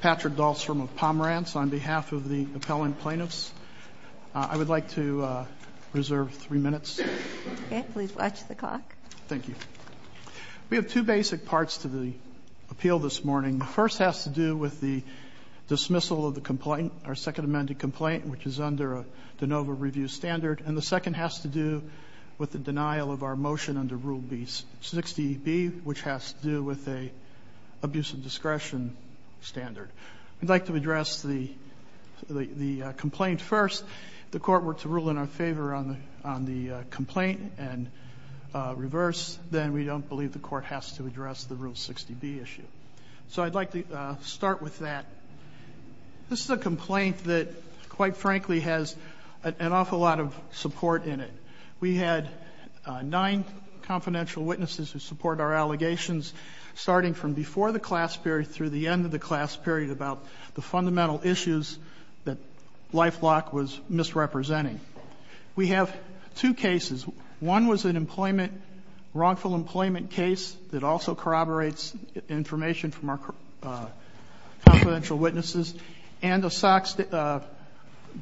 Patrick Dahlstrom v. Pomerantz, Inc. We have two basic parts to the appeal this morning. The first has to do with the dismissal of the complaint, our second amended complaint, which is under a de novo review standard. And the second has to do with the denial of our motion under Rule 60B, which has to do with an abuse of discretion standard. We'd like to address the complaint first. If the Court were to rule in our favor on the complaint and reverse, then we don't believe the Court has to address the Rule 60B issue. So I'd like to start with that. This is a complaint that, quite frankly, has an awful lot of support in it. We had nine confidential witnesses who support our allegations, starting from before the class period through the end of the class period, about the fundamental issues that Lifelock was misrepresenting. We have two cases. One was an employment, wrongful employment case that also corroborates information from our confidential witnesses, and a Sox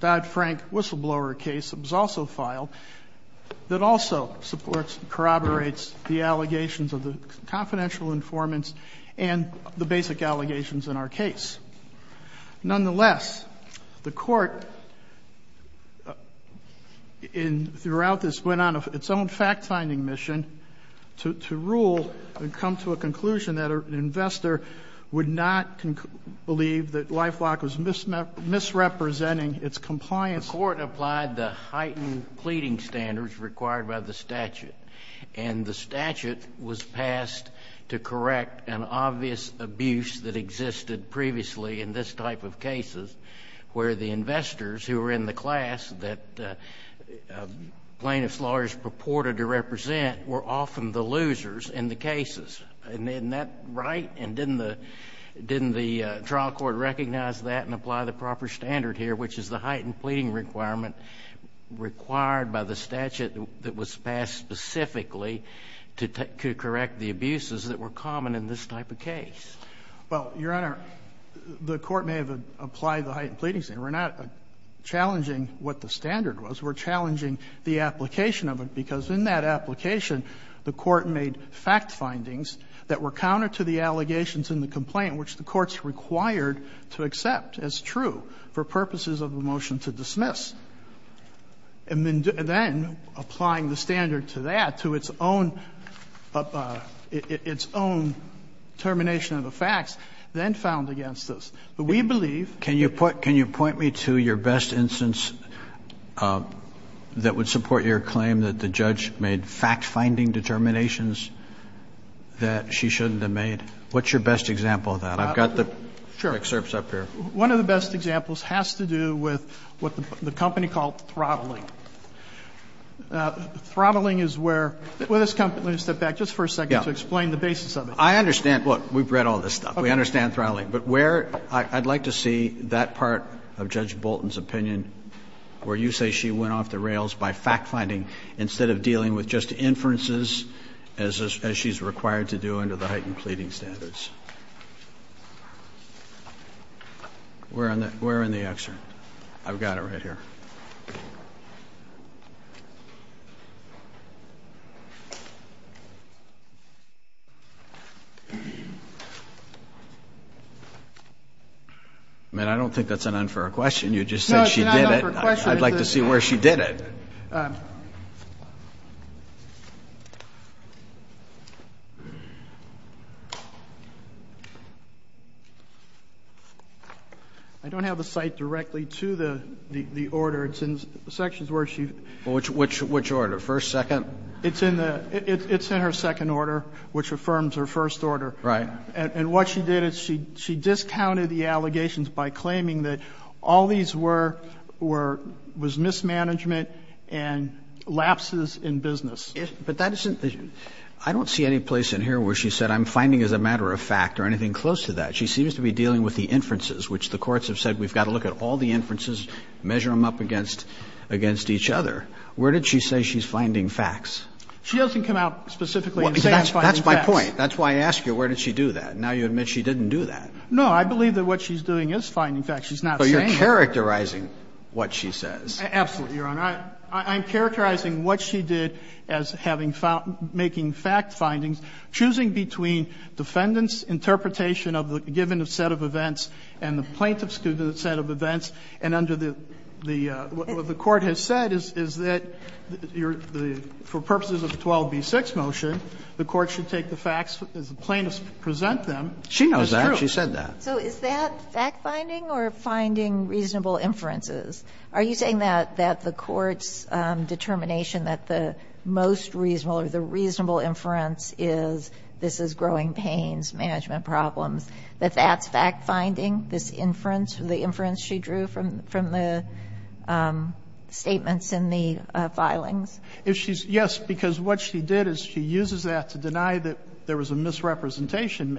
Dodd-Frank whistleblower case that was also filed that also supports, corroborates the allegations of the confidential informants and the basic allegations in our case. Nonetheless, the Court in the route that's going on, its own fact-finding mission, to rule and come to a conclusion that an investor would not believe that Lifelock was misrepresenting its compliance. The Court applied the heightened pleading standards required by the statute, and the statute was passed to correct an obvious abuse that existed previously in this type of cases, where the investors who were in the class that plaintiff's lawyers purported to represent were often the losers in the cases. And isn't that right? And didn't the trial court recognize that and apply the proper standard here, which is the heightened pleading requirement required by the statute that was passed specifically to correct the abuses that were common in this type of case? Well, Your Honor, the Court may have applied the heightened pleading standard. We're not challenging what the standard was. We're challenging the application of it, because in that application, the Court made fact findings that were counter to the allegations in the complaint, which the Court's required to accept as true for purposes of a motion to dismiss. And then applying the standard to that, to its own determination of the facts, then found against us. But we believe that the judge made fact-finding determinations that she shouldn't have made. What's your best example of that? I've got the excerpts up here. One of the best examples has to do with what the company called throttling. Throttling is where this company step back just for a second to explain the basis of it. I understand. Look, we've read all this stuff. We understand throttling. But where I'd like to see that part of Judge Bolton's opinion where you say she went off the rails by fact-finding instead of dealing with just inferences as she's required to do under the heightened pleading standards. Where in the excerpt? I've got it right here. I mean, I don't think that's an unfair question. You just said she did it. No, it's not an unfair question. I'd like to see where she did it. I don't have the site directly to the order. It's in sections where she ---- Well, which order? First, second? It's in the ---- it's in her second order, which affirms her first order. Right. And what she did is she discounted the allegations by claiming that all these were mismanagement and lapses in business. But that isn't the ---- I don't see any place in here where she said I'm finding as a matter of fact or anything close to that. She seems to be dealing with the inferences, which the courts have said we've got to look at all the inferences, measure them up against each other. Where did she say she's finding facts? She doesn't come out specifically and say I'm finding facts. That's my point. That's why I asked you where did she do that. Now you admit she didn't do that. No. I believe that what she's doing is finding facts. She's not saying it. She's characterizing what she says. Absolutely, Your Honor. I'm characterizing what she did as having found ---- making fact findings, choosing between defendant's interpretation of the given set of events and the plaintiff's set of events, and under the ---- what the Court has said is that for purposes of the 12b-6 motion, the Court should take the facts as the plaintiffs present them as true. She knows that. She said that. So is that fact finding or finding reasonable inferences? Are you saying that the Court's determination that the most reasonable or the reasonable inference is this is growing pains, management problems, that that's fact finding, this inference, the inference she drew from the statements in the filings? Yes, because what she did is she uses that to deny that there was a misrepresentation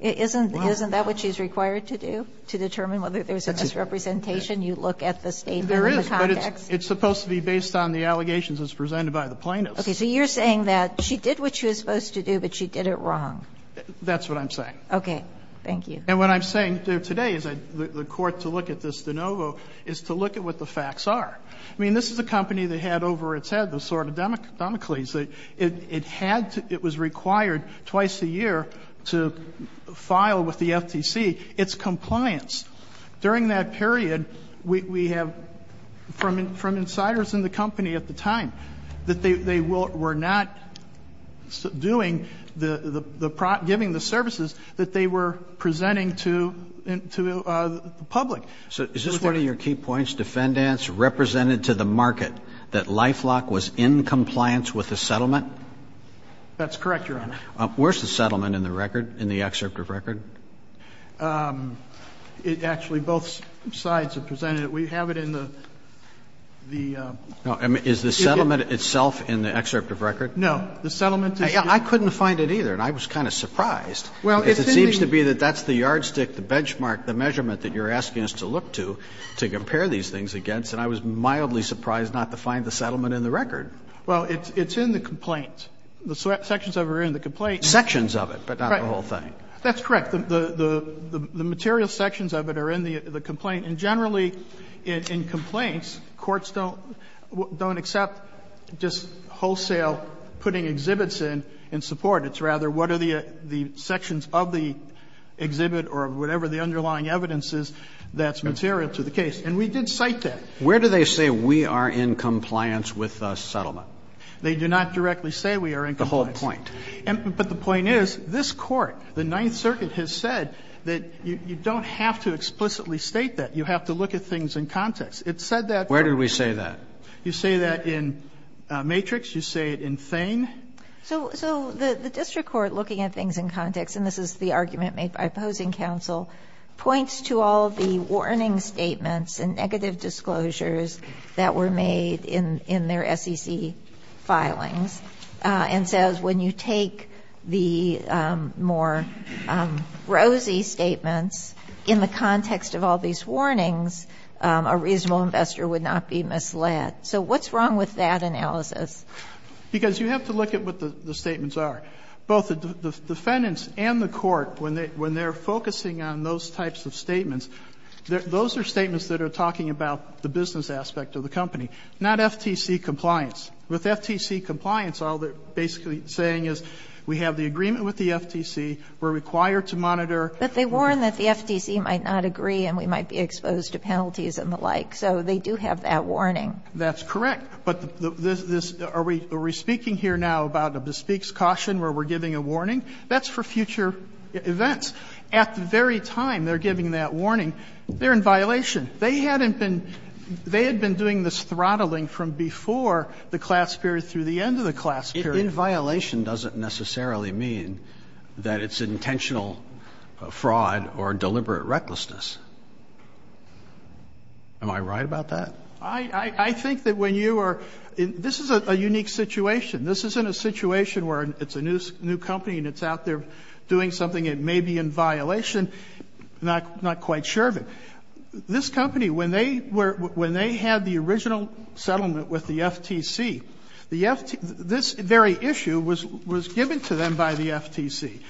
Isn't that what she's required to do, to determine whether there's a misrepresentation? You look at the statement in the context. There is, but it's supposed to be based on the allegations as presented by the plaintiffs. Okay. So you're saying that she did what she was supposed to do, but she did it wrong? That's what I'm saying. Okay. Thank you. And what I'm saying today is the Court to look at this de novo is to look at what the facts are. I mean, this is a company that had over its head the sword of Damocles. It had to, it was required twice a year to file with the FTC its compliance. During that period, we have, from insiders in the company at the time, that they were not doing the, giving the services that they were presenting to the public. So is this one of your key points? That the FTC's defendants represented to the market that LifeLock was in compliance with the settlement? That's correct, Your Honor. Where's the settlement in the record, in the excerpt of record? It actually, both sides have presented it. We have it in the, the CD. Is the settlement itself in the excerpt of record? No. The settlement is. I couldn't find it either, and I was kind of surprised. Well, if anything. Because it seems to be that that's the yardstick, the benchmark, the measurement that you're asking us to look to, to compare these things against. And I was mildly surprised not to find the settlement in the record. Well, it's in the complaint. The sections of it are in the complaint. Sections of it, but not the whole thing. Right. That's correct. The material sections of it are in the complaint. And generally, in complaints, courts don't, don't accept just wholesale putting exhibits in in support. It's rather what are the sections of the exhibit or whatever the underlying evidence is that's material to the case. And we did cite that. Where do they say we are in compliance with the settlement? They do not directly say we are in compliance. The whole point. But the point is, this Court, the Ninth Circuit, has said that you don't have to explicitly state that. You have to look at things in context. It said that. Where did we say that? You say that in Matrix. You say it in Thane. So the district court, looking at things in context, and this is the argument made by opposing counsel, points to all of the warning statements and negative disclosures that were made in their SEC filings, and says when you take the more rosy statements in the context of all these warnings, a reasonable investor would not be misled. So what's wrong with that analysis? Because you have to look at what the statements are. Both the defendants and the Court, when they're focusing on those types of statements, those are statements that are talking about the business aspect of the company, not FTC compliance. With FTC compliance, all they're basically saying is we have the agreement with the FTC, we're required to monitor. But they warn that the FTC might not agree and we might be exposed to penalties and the like. So they do have that warning. That's correct. But this, are we speaking here now about a bespeaks caution where we're giving a warning? That's for future events. At the very time they're giving that warning, they're in violation. They hadn't been, they had been doing this throttling from before the class period through the end of the class period. In violation doesn't necessarily mean that it's intentional fraud or deliberate recklessness. Am I right about that? I think that when you are, this is a unique situation. This isn't a situation where it's a new company and it's out there doing something that may be in violation, not quite sure of it. This company, when they were, when they had the original settlement with the FTC, the FTC, this very issue was given to them by the FTC.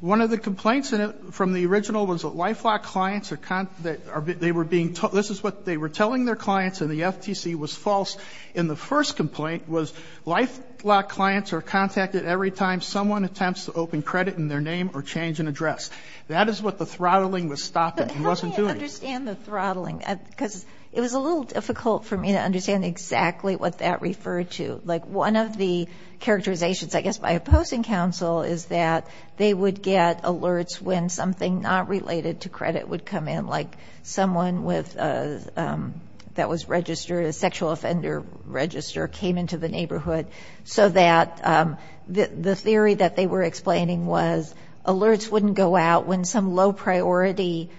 One of the complaints from the original was that LifeLock clients are, they were telling their clients and the FTC was false in the first complaint was LifeLock clients are contacted every time someone attempts to open credit in their name or change an address. That is what the throttling was stopping and wasn't doing. But how do you understand the throttling? Because it was a little difficult for me to understand exactly what that referred to. Like one of the characterizations, I guess, by opposing counsel is that they would get alerts when something not related to credit would come in, like someone with, that was registered, a sexual offender register came into the neighborhood so that the theory that they were explaining was alerts wouldn't go out when some low-priority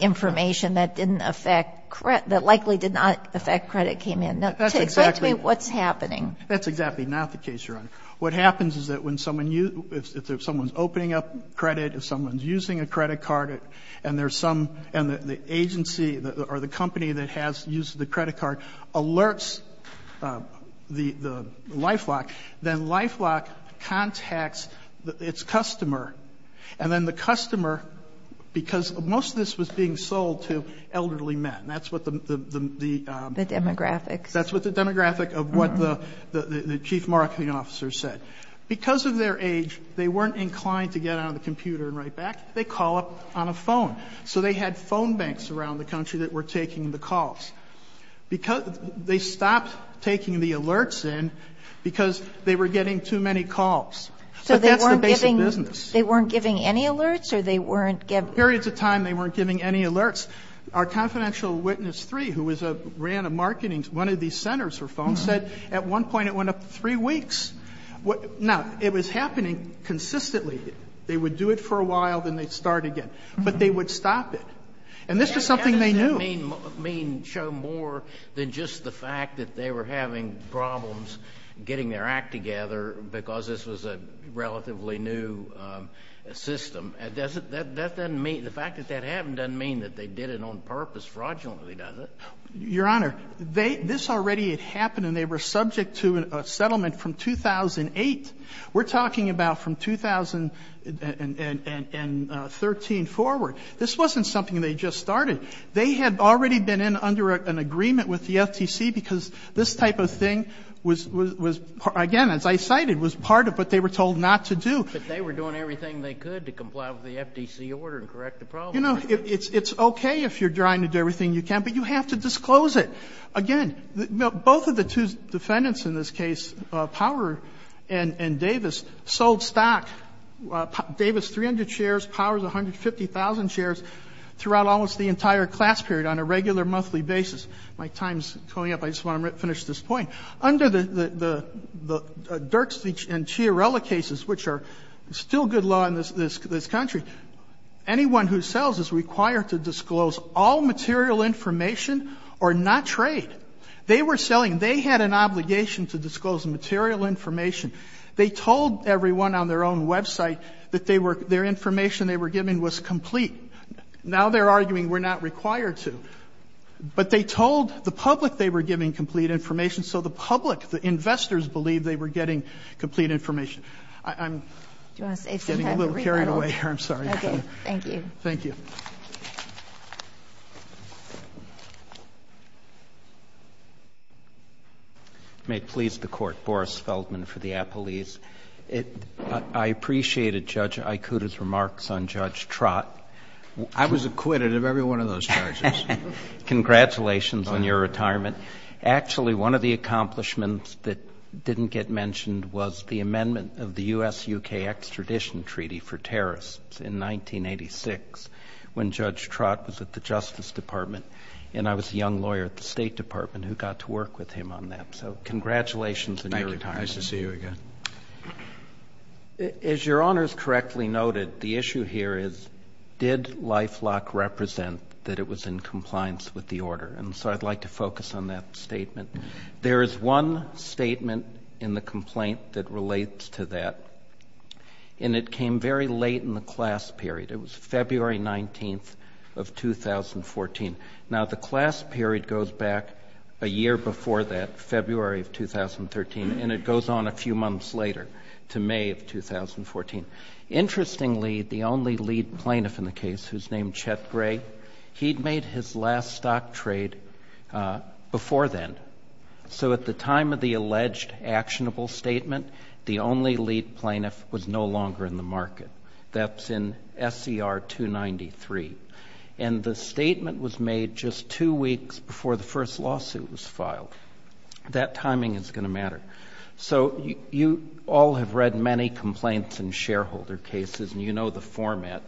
information that didn't affect, that likely did not affect credit came in. That's exactly. Explain to me what's happening. That's exactly not the case, Your Honor. What happens is that when someone, if someone's opening up credit, if someone's using a credit card and there's some, and the agency or the company that has used the credit card alerts the LifeLock, then LifeLock contacts its customer. And then the customer, because most of this was being sold to elderly men. That's what the. The demographics. That's what the demographic of what the chief marketing officer said. Because of their age, they weren't inclined to get out of the computer and write back. They call up on a phone. So they had phone banks around the country that were taking the calls. They stopped taking the alerts in because they were getting too many calls. But that's the basic business. So they weren't giving any alerts or they weren't giving. Periods of time they weren't giving any alerts. Our confidential witness three, who ran a marketing, one of these centers for phones, said at one point it went up to three weeks. Now, it was happening consistently. They would do it for a while, then they'd start again. But they would stop it. And this was something they knew. That doesn't mean show more than just the fact that they were having problems getting their act together because this was a relatively new system. The fact that that happened doesn't mean that they did it on purpose fraudulently, does it? Your Honor, this already had happened and they were subject to a settlement from 2008. We're talking about from 2013 forward. This wasn't something they just started. They had already been in under an agreement with the FTC because this type of thing was, again, as I cited, was part of what they were told not to do. But they were doing everything they could to comply with the FTC order and correct the problem. You know, it's okay if you're trying to do everything you can, but you have to disclose it. Again, both of the two defendants in this case, Power and Davis, sold stock. Davis, 300 shares. Power, 150,000 shares throughout almost the entire class period on a regular monthly basis. My time's coming up. I just want to finish this point. Under the Dirks and Chiarella cases, which are still good law in this country, anyone who sells is required to disclose all material information or not trade. They were selling. They had an obligation to disclose material information. They told everyone on their own website that their information they were giving was complete. Now they're arguing we're not required to. But they told the public they were giving complete information. So the public, the investors, believed they were getting complete information. I'm getting a little carried away here. I'm sorry. Thank you. Thank you. May it please the Court. Boris Feldman for the Appellees. I appreciated Judge Ikuda's remarks on Judge Trott. I was acquitted of every one of those charges. Congratulations on your retirement. Actually, one of the accomplishments that didn't get mentioned was the amendment of the U.S.-U.K. Extradition Treaty for terrorists in 1986 when Judge Trott was at the Justice Department. And I was a young lawyer at the State Department who got to work with him on that. So congratulations on your retirement. Thank you. Nice to see you again. As Your Honors correctly noted, the issue here is did LifeLock represent that it was in compliance with the order? And so I'd like to focus on that statement. There is one statement in the complaint that relates to that, and it came very late in the class period. It was February 19th of 2014. Now, the class period goes back a year before that, February of 2013, and it goes on a few months later to May of 2014. Interestingly, the only lead plaintiff in the case, who's named Chet Gray, he'd made his last stock trade before then. So at the time of the alleged actionable statement, the only lead plaintiff was no longer in the market. That's in SCR 293. And the statement was made just two weeks before the first lawsuit was filed. That timing is going to matter. So you all have read many complaints in shareholder cases, and you know the format.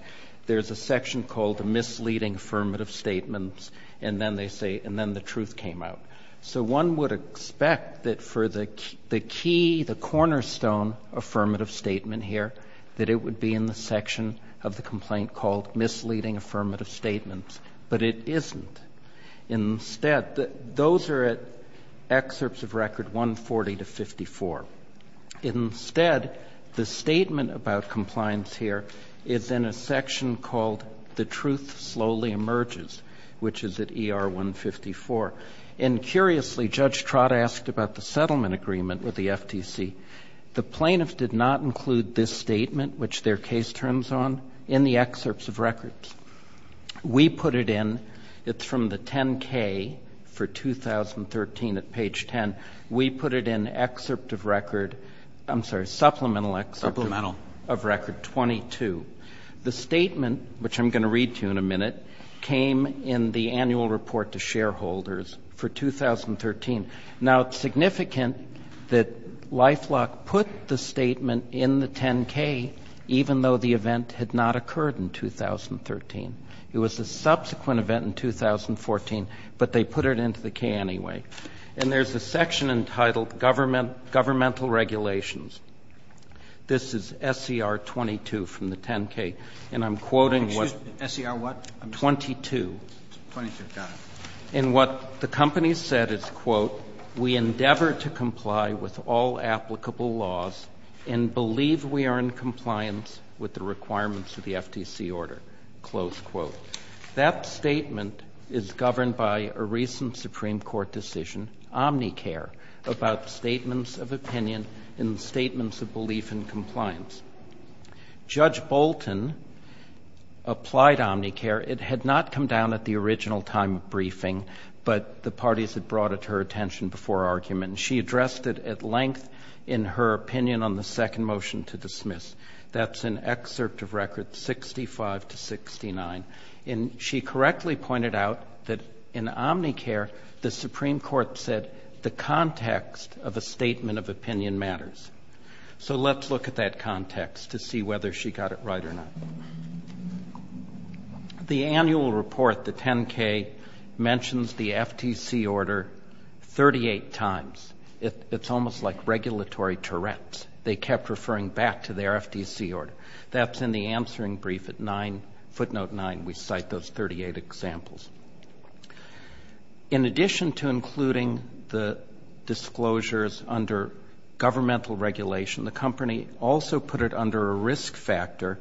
There's a section called misleading affirmative statements, and then they say, and then the truth came out. So one would expect that for the key, the cornerstone affirmative statement here, that it would be in the section of the complaint called misleading affirmative statements. But it isn't. Instead, those are at excerpts of record 140 to 54. Instead, the statement about compliance here is in a section called the truth slowly emerges, which is at ER 154. And curiously, Judge Trott asked about the settlement agreement with the FTC. The plaintiff did not include this statement, which their case turns on, in the excerpts of records. We put it in. It's from the 10-K for 2013 at page 10. We put it in excerpt of record, I'm sorry, supplemental excerpt of record 22. The statement, which I'm going to read to you in a minute, came in the annual report to shareholders for 2013. Now, it's significant that LifeLock put the statement in the 10-K, even though the event had not occurred in 2013. It was a subsequent event in 2014, but they put it into the K anyway. And there's a section entitled governmental regulations. This is SCR 22 from the 10-K. And I'm quoting what? Roberts. SCR what? 22. 22. Got it. And what the company said is, quote, we endeavor to comply with all applicable laws and believe we are in compliance with the requirements of the FTC order, close quote. That statement is governed by a recent Supreme Court decision, Omnicare, about statements of opinion and statements of belief in compliance. Judge Bolton applied Omnicare. It had not come down at the original time of briefing, but the parties had brought it to her attention before argument. And she addressed it at length in her opinion on the second motion to dismiss. That's an excerpt of record 65 to 69. And she correctly pointed out that in Omnicare, the Supreme Court said the context of a statement of opinion matters. So let's look at that context to see whether she got it right or not. The annual report, the 10-K, mentions the FTC order 38 times. It's almost like regulatory Tourette's. They kept referring back to their FTC order. That's in the answering brief at footnote 9. We cite those 38 examples. In addition to including the disclosures under governmental regulation, the company also put it under a risk factor,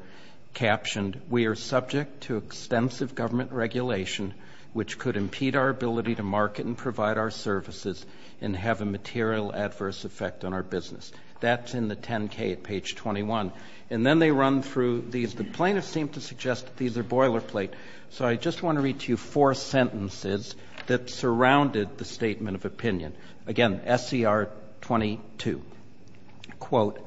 captioned, we are subject to extensive government regulation which could impede our ability to market and provide our services and have a material adverse effect on our business. That's in the 10-K at page 21. And then they run through these. The plaintiffs seem to suggest that these are boilerplate. So I just want to read to you four sentences that surrounded the statement of opinion. Again, SCR 22. Quote,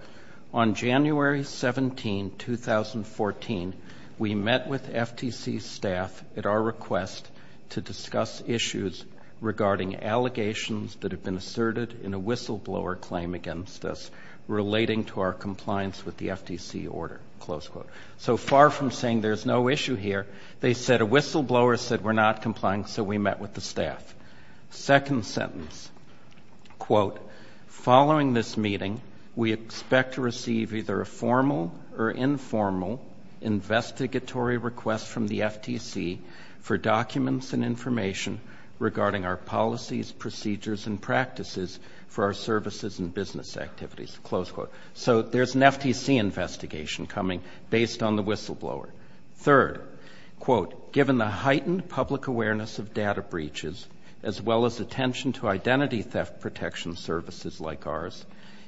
on January 17, 2014, we met with FTC staff at our request to discuss issues regarding allegations that have been asserted in a whistleblower claim against us relating to our compliance with the FTC order, close quote. So far from saying there's no issue here, they said a whistleblower said we're not complying, so we met with the staff. Second sentence, quote, following this meeting, we expect to receive either a formal or informal investigatory request from the FTC for documents and information regarding our policies, procedures, and practices for our services and business activities, close quote. So there's an FTC investigation coming based on the whistleblower. Third, quote, given the heightened public awareness of data breaches, as well as attention to identity theft protection services like ours,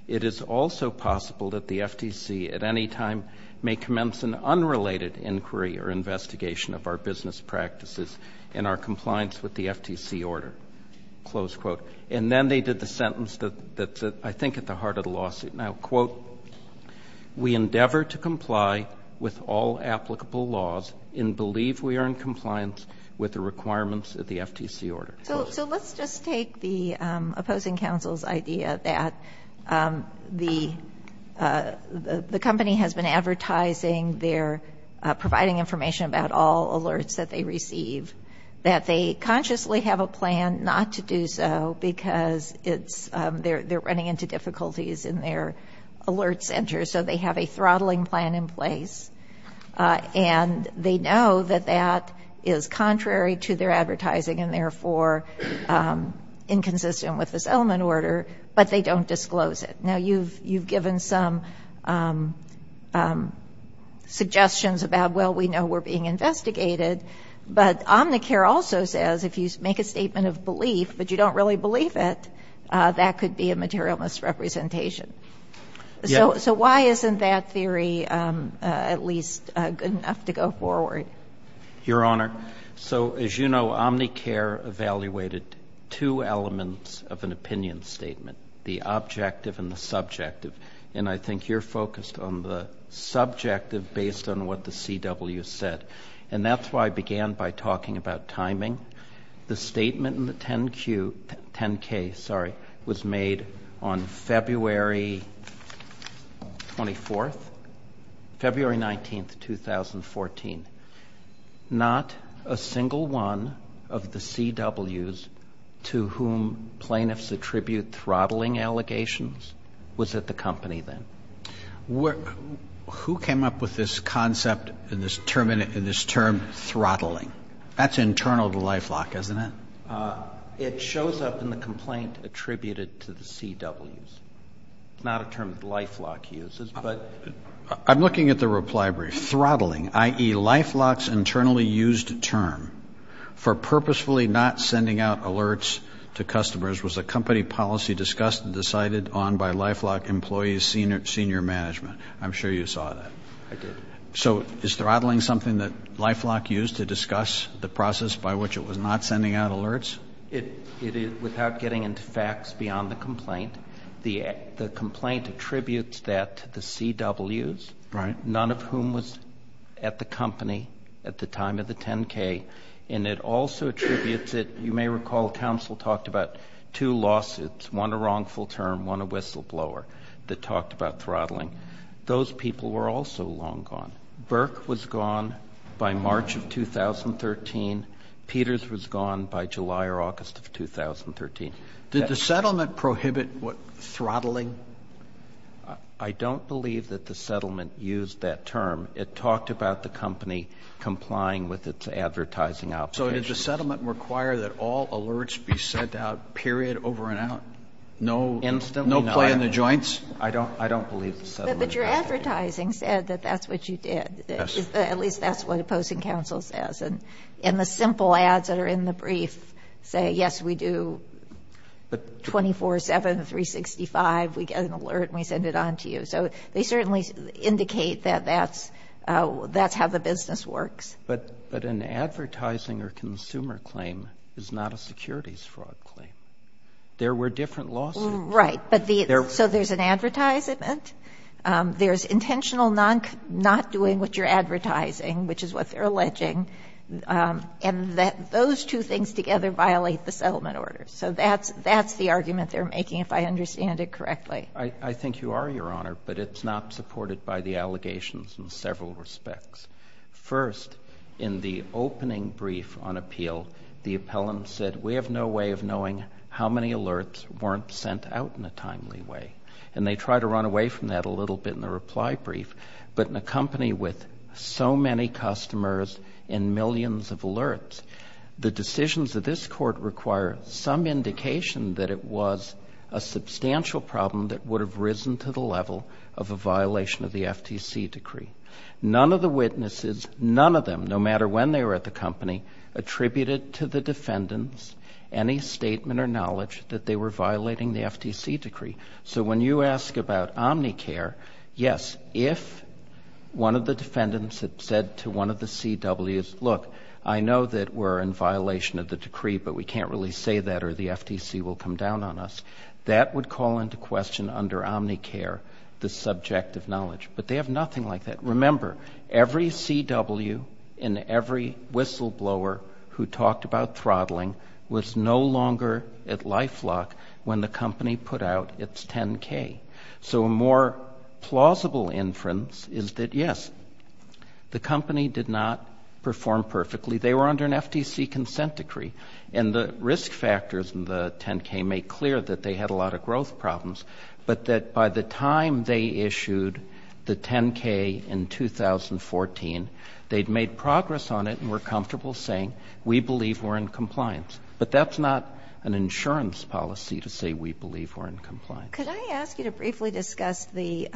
it is also possible that the FTC at any time may commence an unrelated inquiry or investigation of our business practices in our compliance with the FTC order, close quote. And then they did the sentence that's I think at the heart of the lawsuit now. Quote, we endeavor to comply with all applicable laws and believe we are in compliance with the requirements of the FTC order. So let's just take the opposing counsel's idea that the company has been advertising they're providing information about all alerts that they receive, that they consciously have a plan not to do so because they're running into difficulties in their alert center, so they have a throttling plan in place. And they know that that is contrary to their advertising and therefore inconsistent with this element order, but they don't disclose it. Now, you've given some suggestions about, well, we know we're being investigated, but Omnicare also says if you make a statement of belief but you don't really believe it, that could be a material misrepresentation. So why isn't that theory at least good enough to go forward? Your Honor, so as you know, Omnicare evaluated two elements of an opinion statement, the objective and the subjective. And I think you're focused on the subjective based on what the CW said. And that's why I began by talking about timing. The statement in the 10-Q, 10-K, sorry, was made on February 24th, February 19th, 2014. Not a single one of the CWs to whom plaintiffs attribute throttling allegations was at the company then. Who came up with this concept and this term throttling? That's internal to LifeLock, isn't it? It shows up in the complaint attributed to the CWs. It's not a term that LifeLock uses. I'm looking at the reply brief. Throttling, i.e., LifeLock's internally used term for purposefully not sending out alerts to customers, was a company policy discussed and decided on by LifeLock employees' senior management. I'm sure you saw that. I did. So is throttling something that LifeLock used to discuss the process by which it was not sending out alerts? It is without getting into facts beyond the complaint. The complaint attributes that to the CWs. Right. None of whom was at the company at the time of the 10-K. And it also attributes it, you may recall counsel talked about two lawsuits, one a wrongful term, one a whistleblower, that talked about throttling. Those people were also long gone. Burke was gone by March of 2013. Peters was gone by July or August of 2013. Did the settlement prohibit throttling? I don't believe that the settlement used that term. It talked about the company complying with its advertising obligations. So did the settlement require that all alerts be sent out, period, over and out? Instantly not. No play in the joints? I don't believe the settlement. But your advertising said that that's what you did. Yes. At least that's what opposing counsel says. And the simple ads that are in the brief say, yes, we do 24-7, 365. We get an alert and we send it on to you. So they certainly indicate that that's how the business works. But an advertising or consumer claim is not a securities fraud claim. There were different lawsuits. Right. So there's an advertisement. There's intentional not doing what you're advertising, which is what they're alleging. And those two things together violate the settlement order. So that's the argument they're making, if I understand it correctly. I think you are, Your Honor, but it's not supported by the allegations in several respects. First, in the opening brief on appeal, the appellant said, we have no way of knowing how many alerts weren't sent out in a timely way. And they try to run away from that a little bit in the reply brief. But in a company with so many customers and millions of alerts, the decisions of this Court require some indication that it was a substantial problem that would have risen to the level of a violation of the FTC decree. None of the witnesses, none of them, no matter when they were at the company, attributed to the defendants any statement or knowledge that they were violating the FTC decree. So when you ask about Omnicare, yes, if one of the defendants had said to one of the CWs, look, I know that we're in violation of the decree, but we can't really say that or the FTC will come down on us, that would call into question under Omnicare the subjective knowledge. But they have nothing like that. Remember, every CW and every whistleblower who talked about throttling was no longer at life lock when the company put out its 10-K. So a more plausible inference is that, yes, the company did not perform perfectly. They were under an FTC consent decree. And the risk factors in the 10-K make clear that they had a lot of growth problems, but that by the time they issued the 10-K in 2014, they'd made progress on it and were comfortable saying we believe we're in compliance. But that's not an insurance policy to say we believe we're in compliance. Can I ask you to briefly discuss the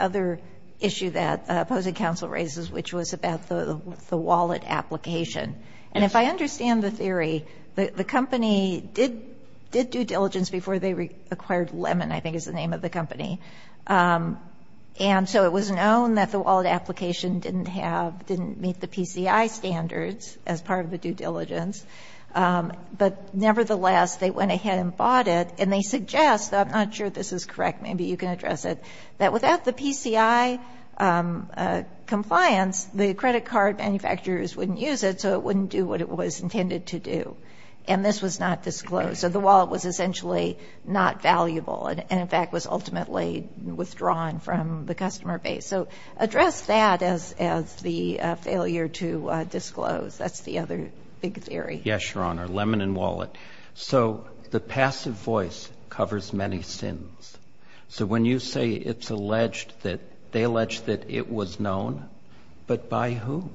other issue that opposing counsel raises, which was about the wallet application? And if I understand the theory, the company did due diligence before they acquired Lemon, I think is the name of the company. And so it was known that the wallet application didn't meet the PCI standards as part of the due diligence. But nevertheless, they went ahead and bought it. And they suggest, though I'm not sure this is correct, maybe you can address it, that without the PCI compliance, the credit card manufacturers wouldn't use it, so it wouldn't do what it was intended to do. And this was not disclosed. So the wallet was essentially not valuable and, in fact, was ultimately withdrawn from the customer base. So address that as the failure to disclose. That's the other big theory. Yes, Your Honor. Lemon and wallet. So the passive voice covers many sins. So when you say it's alleged that they alleged that it was known, but by whom?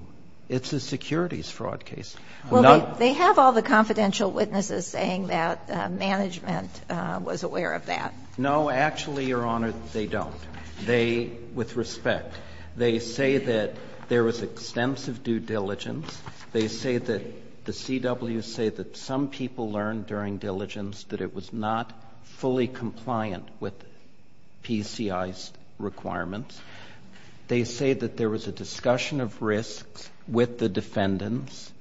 It's a securities fraud case. Well, they have all the confidential witnesses saying that management was aware of that. No, actually, Your Honor, they don't. They, with respect, they say that there was extensive due diligence. They say that the CWs say that some people learned during diligence that it was not fully compliant with PCI's requirements. They say that there was a discussion of risks with the defendants,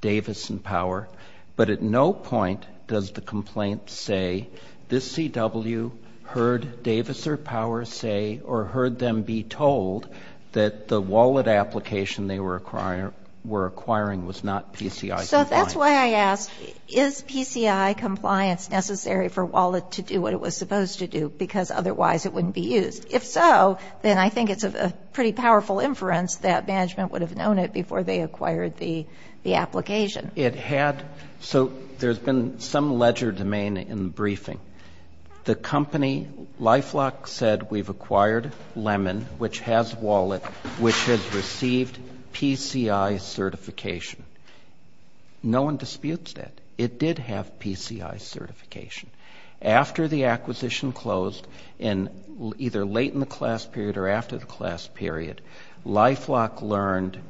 Davis and Power, but at no point does the complaint say, this CW heard Davis or Power say or heard them be told that the wallet application they were acquiring was not PCI compliant. So that's why I ask, is PCI compliance necessary for wallet to do what it was supposed to do because otherwise it wouldn't be used? If so, then I think it's a pretty powerful inference that management would have known it before they acquired the application. It had. So there's been some ledger domain in the briefing. The company, LifeLock, said we've acquired Lemon, which has wallet, which has received PCI certification. No one disputes that. It did have PCI certification. After the acquisition closed, either late in the class period or after the class period, LifeLock learned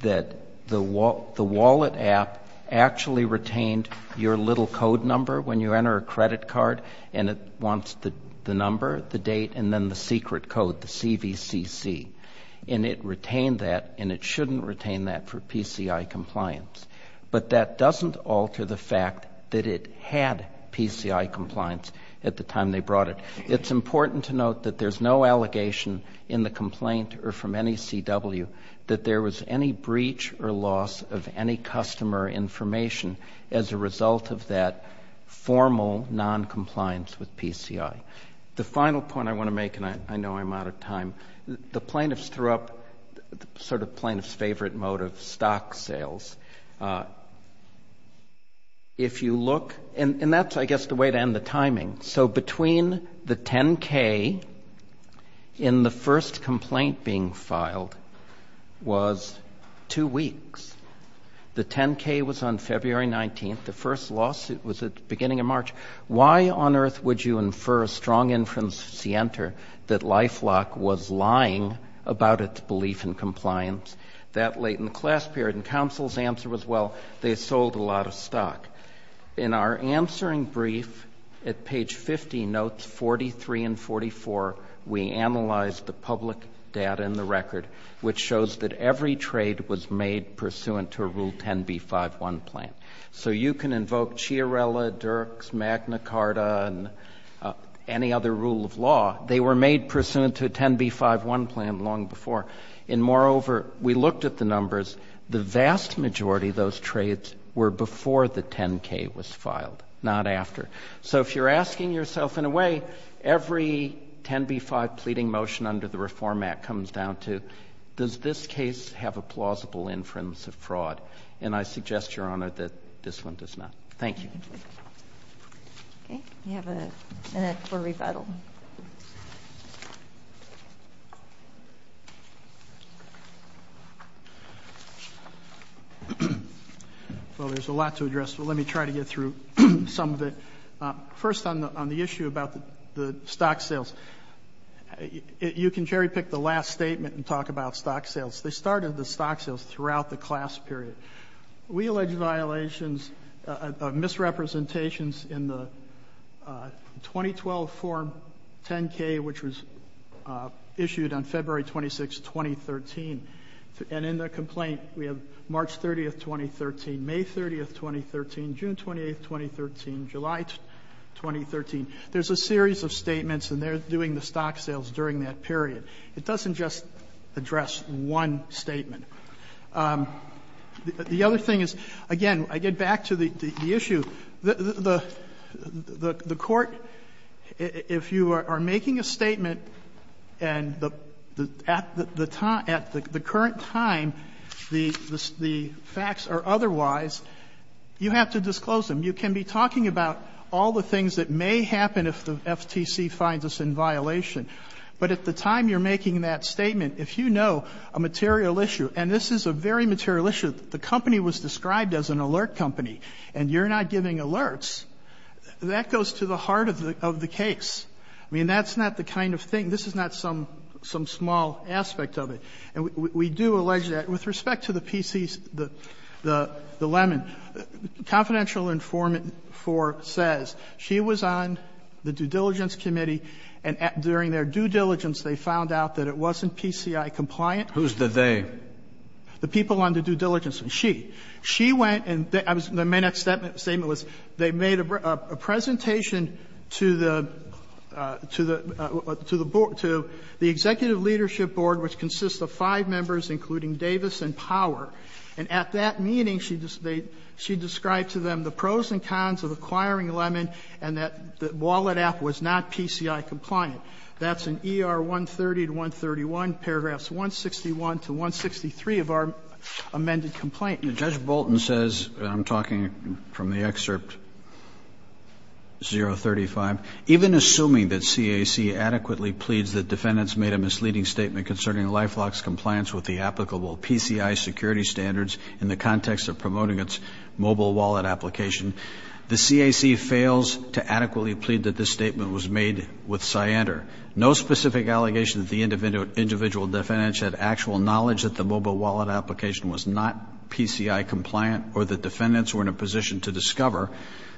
that the wallet app actually retained your little code number when you enter a credit card, and it wants the number, the date, and then the secret code, the CVCC. And it retained that, and it shouldn't retain that for PCI compliance. But that doesn't alter the fact that it had PCI compliance at the time they brought it. It's important to note that there's no allegation in the complaint or from any CW that there was any breach or loss of any customer information as a result of that formal noncompliance with PCI. The final point I want to make, and I know I'm out of time, the plaintiffs threw up sort of plaintiff's favorite mode of stock sales. If you look, and that's, I guess, the way to end the timing. So between the 10K and the first complaint being filed was two weeks. The 10K was on February 19th. Why on earth would you infer a strong inference to see enter that LifeLock was lying about its belief in compliance that late in the class period? And counsel's answer was, well, they sold a lot of stock. In our answering brief at page 50, notes 43 and 44, we analyzed the public data in the record, which shows that every trade was made pursuant to a rule 10B51 plan. So you can invoke Chiarella, Dirks, Magna Carta, and any other rule of law. They were made pursuant to a 10B51 plan long before. And moreover, we looked at the numbers. The vast majority of those trades were before the 10K was filed, not after. So if you're asking yourself, in a way, every 10B5 pleading motion under the Reform Act comes down to, does this case have a plausible inference of fraud? And I suggest, Your Honor, that this one does not. Thank you. Okay. We have a minute for rebuttal. Well, there's a lot to address, but let me try to get through some of it. First, on the issue about the stock sales, you can cherry-pick the last statement and talk about stock sales. They started the stock sales throughout the class period. We allege violations, misrepresentations in the 2012 form 10K, which was issued on February 26, 2013. And in the complaint, we have March 30, 2013, May 30, 2013, June 28, 2013, July 2013. There's a series of statements, and they're doing the stock sales during that period. It doesn't just address one statement. The other thing is, again, I get back to the issue. The Court, if you are making a statement and at the current time the facts are otherwise, you have to disclose them. You can be talking about all the things that may happen if the FTC finds us in violation. But at the time you're making that statement, if you know a material issue, and this is a very material issue, the company was described as an alert company, and you're not giving alerts, that goes to the heart of the case. I mean, that's not the kind of thing, this is not some small aspect of it. And we do allege that with respect to the PCs, the Lemon. Confidential informant 4 says she was on the due diligence committee, and during their due diligence, they found out that it wasn't PCI-compliant. Roberts. Who's the they? The people on the due diligence, and she. She went and the main statement was they made a presentation to the, to the, to the executive leadership board, which consists of five members, including Davis and Power. And at that meeting, she described to them the pros and cons of acquiring Lemon and that the wallet app was not PCI-compliant. That's in ER 130 to 131, paragraphs 161 to 163 of our amended complaint. And Judge Bolton says, and I'm talking from the excerpt 035, even assuming that CAC adequately pleads that defendants made a misleading statement concerning LifeLock's compliance with the applicable PCI security standards in the context of promoting its mobile wallet application, the CAC fails to adequately plead that this statement was made with cyander. No specific allegation that the individual defendants had actual knowledge that the mobile wallet application was not PCI-compliant or that defendants were in a position to discover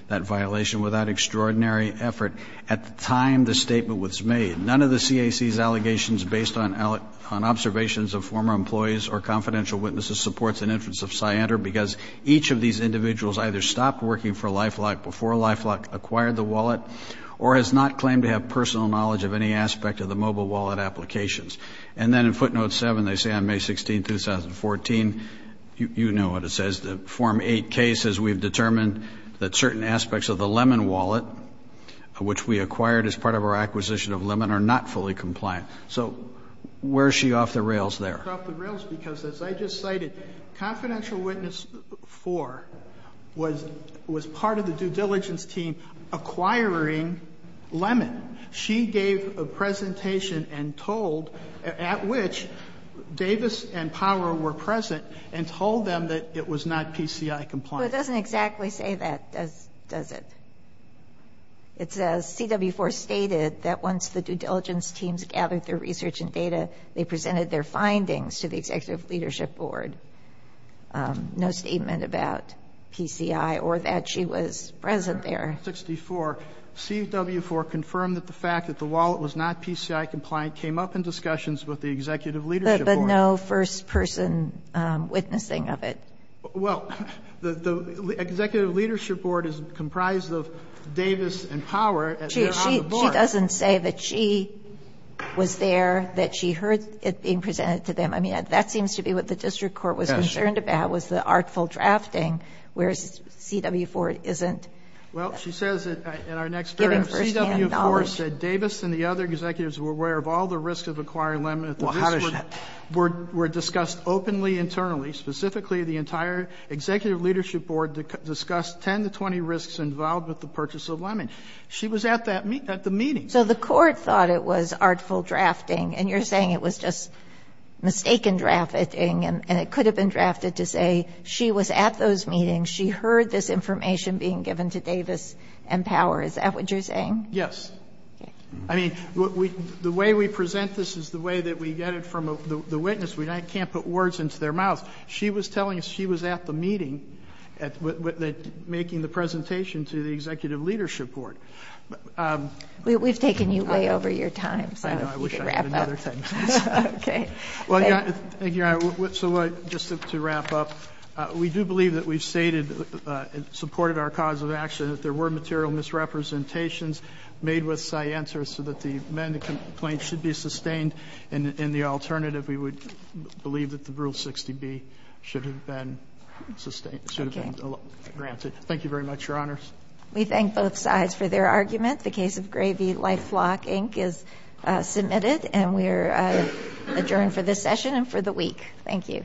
that violation without extraordinary effort at the time the statement was made. None of the CAC's allegations based on observations of former employees or confidential witnesses supports an inference of cyander because each of these individuals either stopped working for LifeLock before LifeLock acquired the wallet or has not claimed to have personal knowledge of any aspect of the mobile wallet applications. And then in footnote 7, they say on May 16, 2014, you know what it says, the form 8K says we've determined that certain aspects of the Lemon wallet, which we acquired as part of our acquisition of Lemon, are not fully compliant. So where is she off the rails there? She's off the rails because as I just cited, confidential witness 4 was part of the due diligence team acquiring Lemon. She gave a presentation and told, at which Davis and Power were present, and told them that it was not PCI-compliant. But it doesn't exactly say that, does it? It says CW4 stated that once the due diligence teams gathered their research and data, they presented their findings to the executive leadership board. No statement about PCI or that she was present there. 64, CW4 confirmed that the fact that the wallet was not PCI-compliant came up in discussions with the executive leadership board. But no first-person witnessing of it. Well, the executive leadership board is comprised of Davis and Power. She doesn't say that she was there, that she heard it being presented to them. I mean, that seems to be what the district court was concerned about, was the artful drafting, whereas CW4 isn't. Well, she says in our next paragraph, CW4 said Davis and the other executives were aware of all the risks of acquiring Lemon. The risks were discussed openly internally. Specifically, the entire executive leadership board discussed 10 to 20 risks involved with the purchase of Lemon. She was at that meeting, at the meeting. So the court thought it was artful drafting, and you're saying it was just mistaken drafting, and it could have been drafted to say she was at those meetings, she heard this information being given to Davis and Power. Is that what you're saying? Yes. I mean, the way we present this is the way that we get it from the witness. We can't put words into their mouth. She was telling us she was at the meeting, making the presentation to the executive leadership board. We've taken you way over your time, so you can wrap up. I know. I wish I had another 10 minutes. Okay. Thank you, Your Honor. So just to wrap up, we do believe that we've stated and supported our cause of action and that there were material misrepresentations made with Scientia so that the men in the complaint should be sustained, and the alternative, we would believe that the Rule 60B should have been sustained, should have been granted. Thank you very much, Your Honors. We thank both sides for their argument. The case of Gravy Life Flock, Inc. is submitted, and we are adjourned for this session and for the week. Thank you.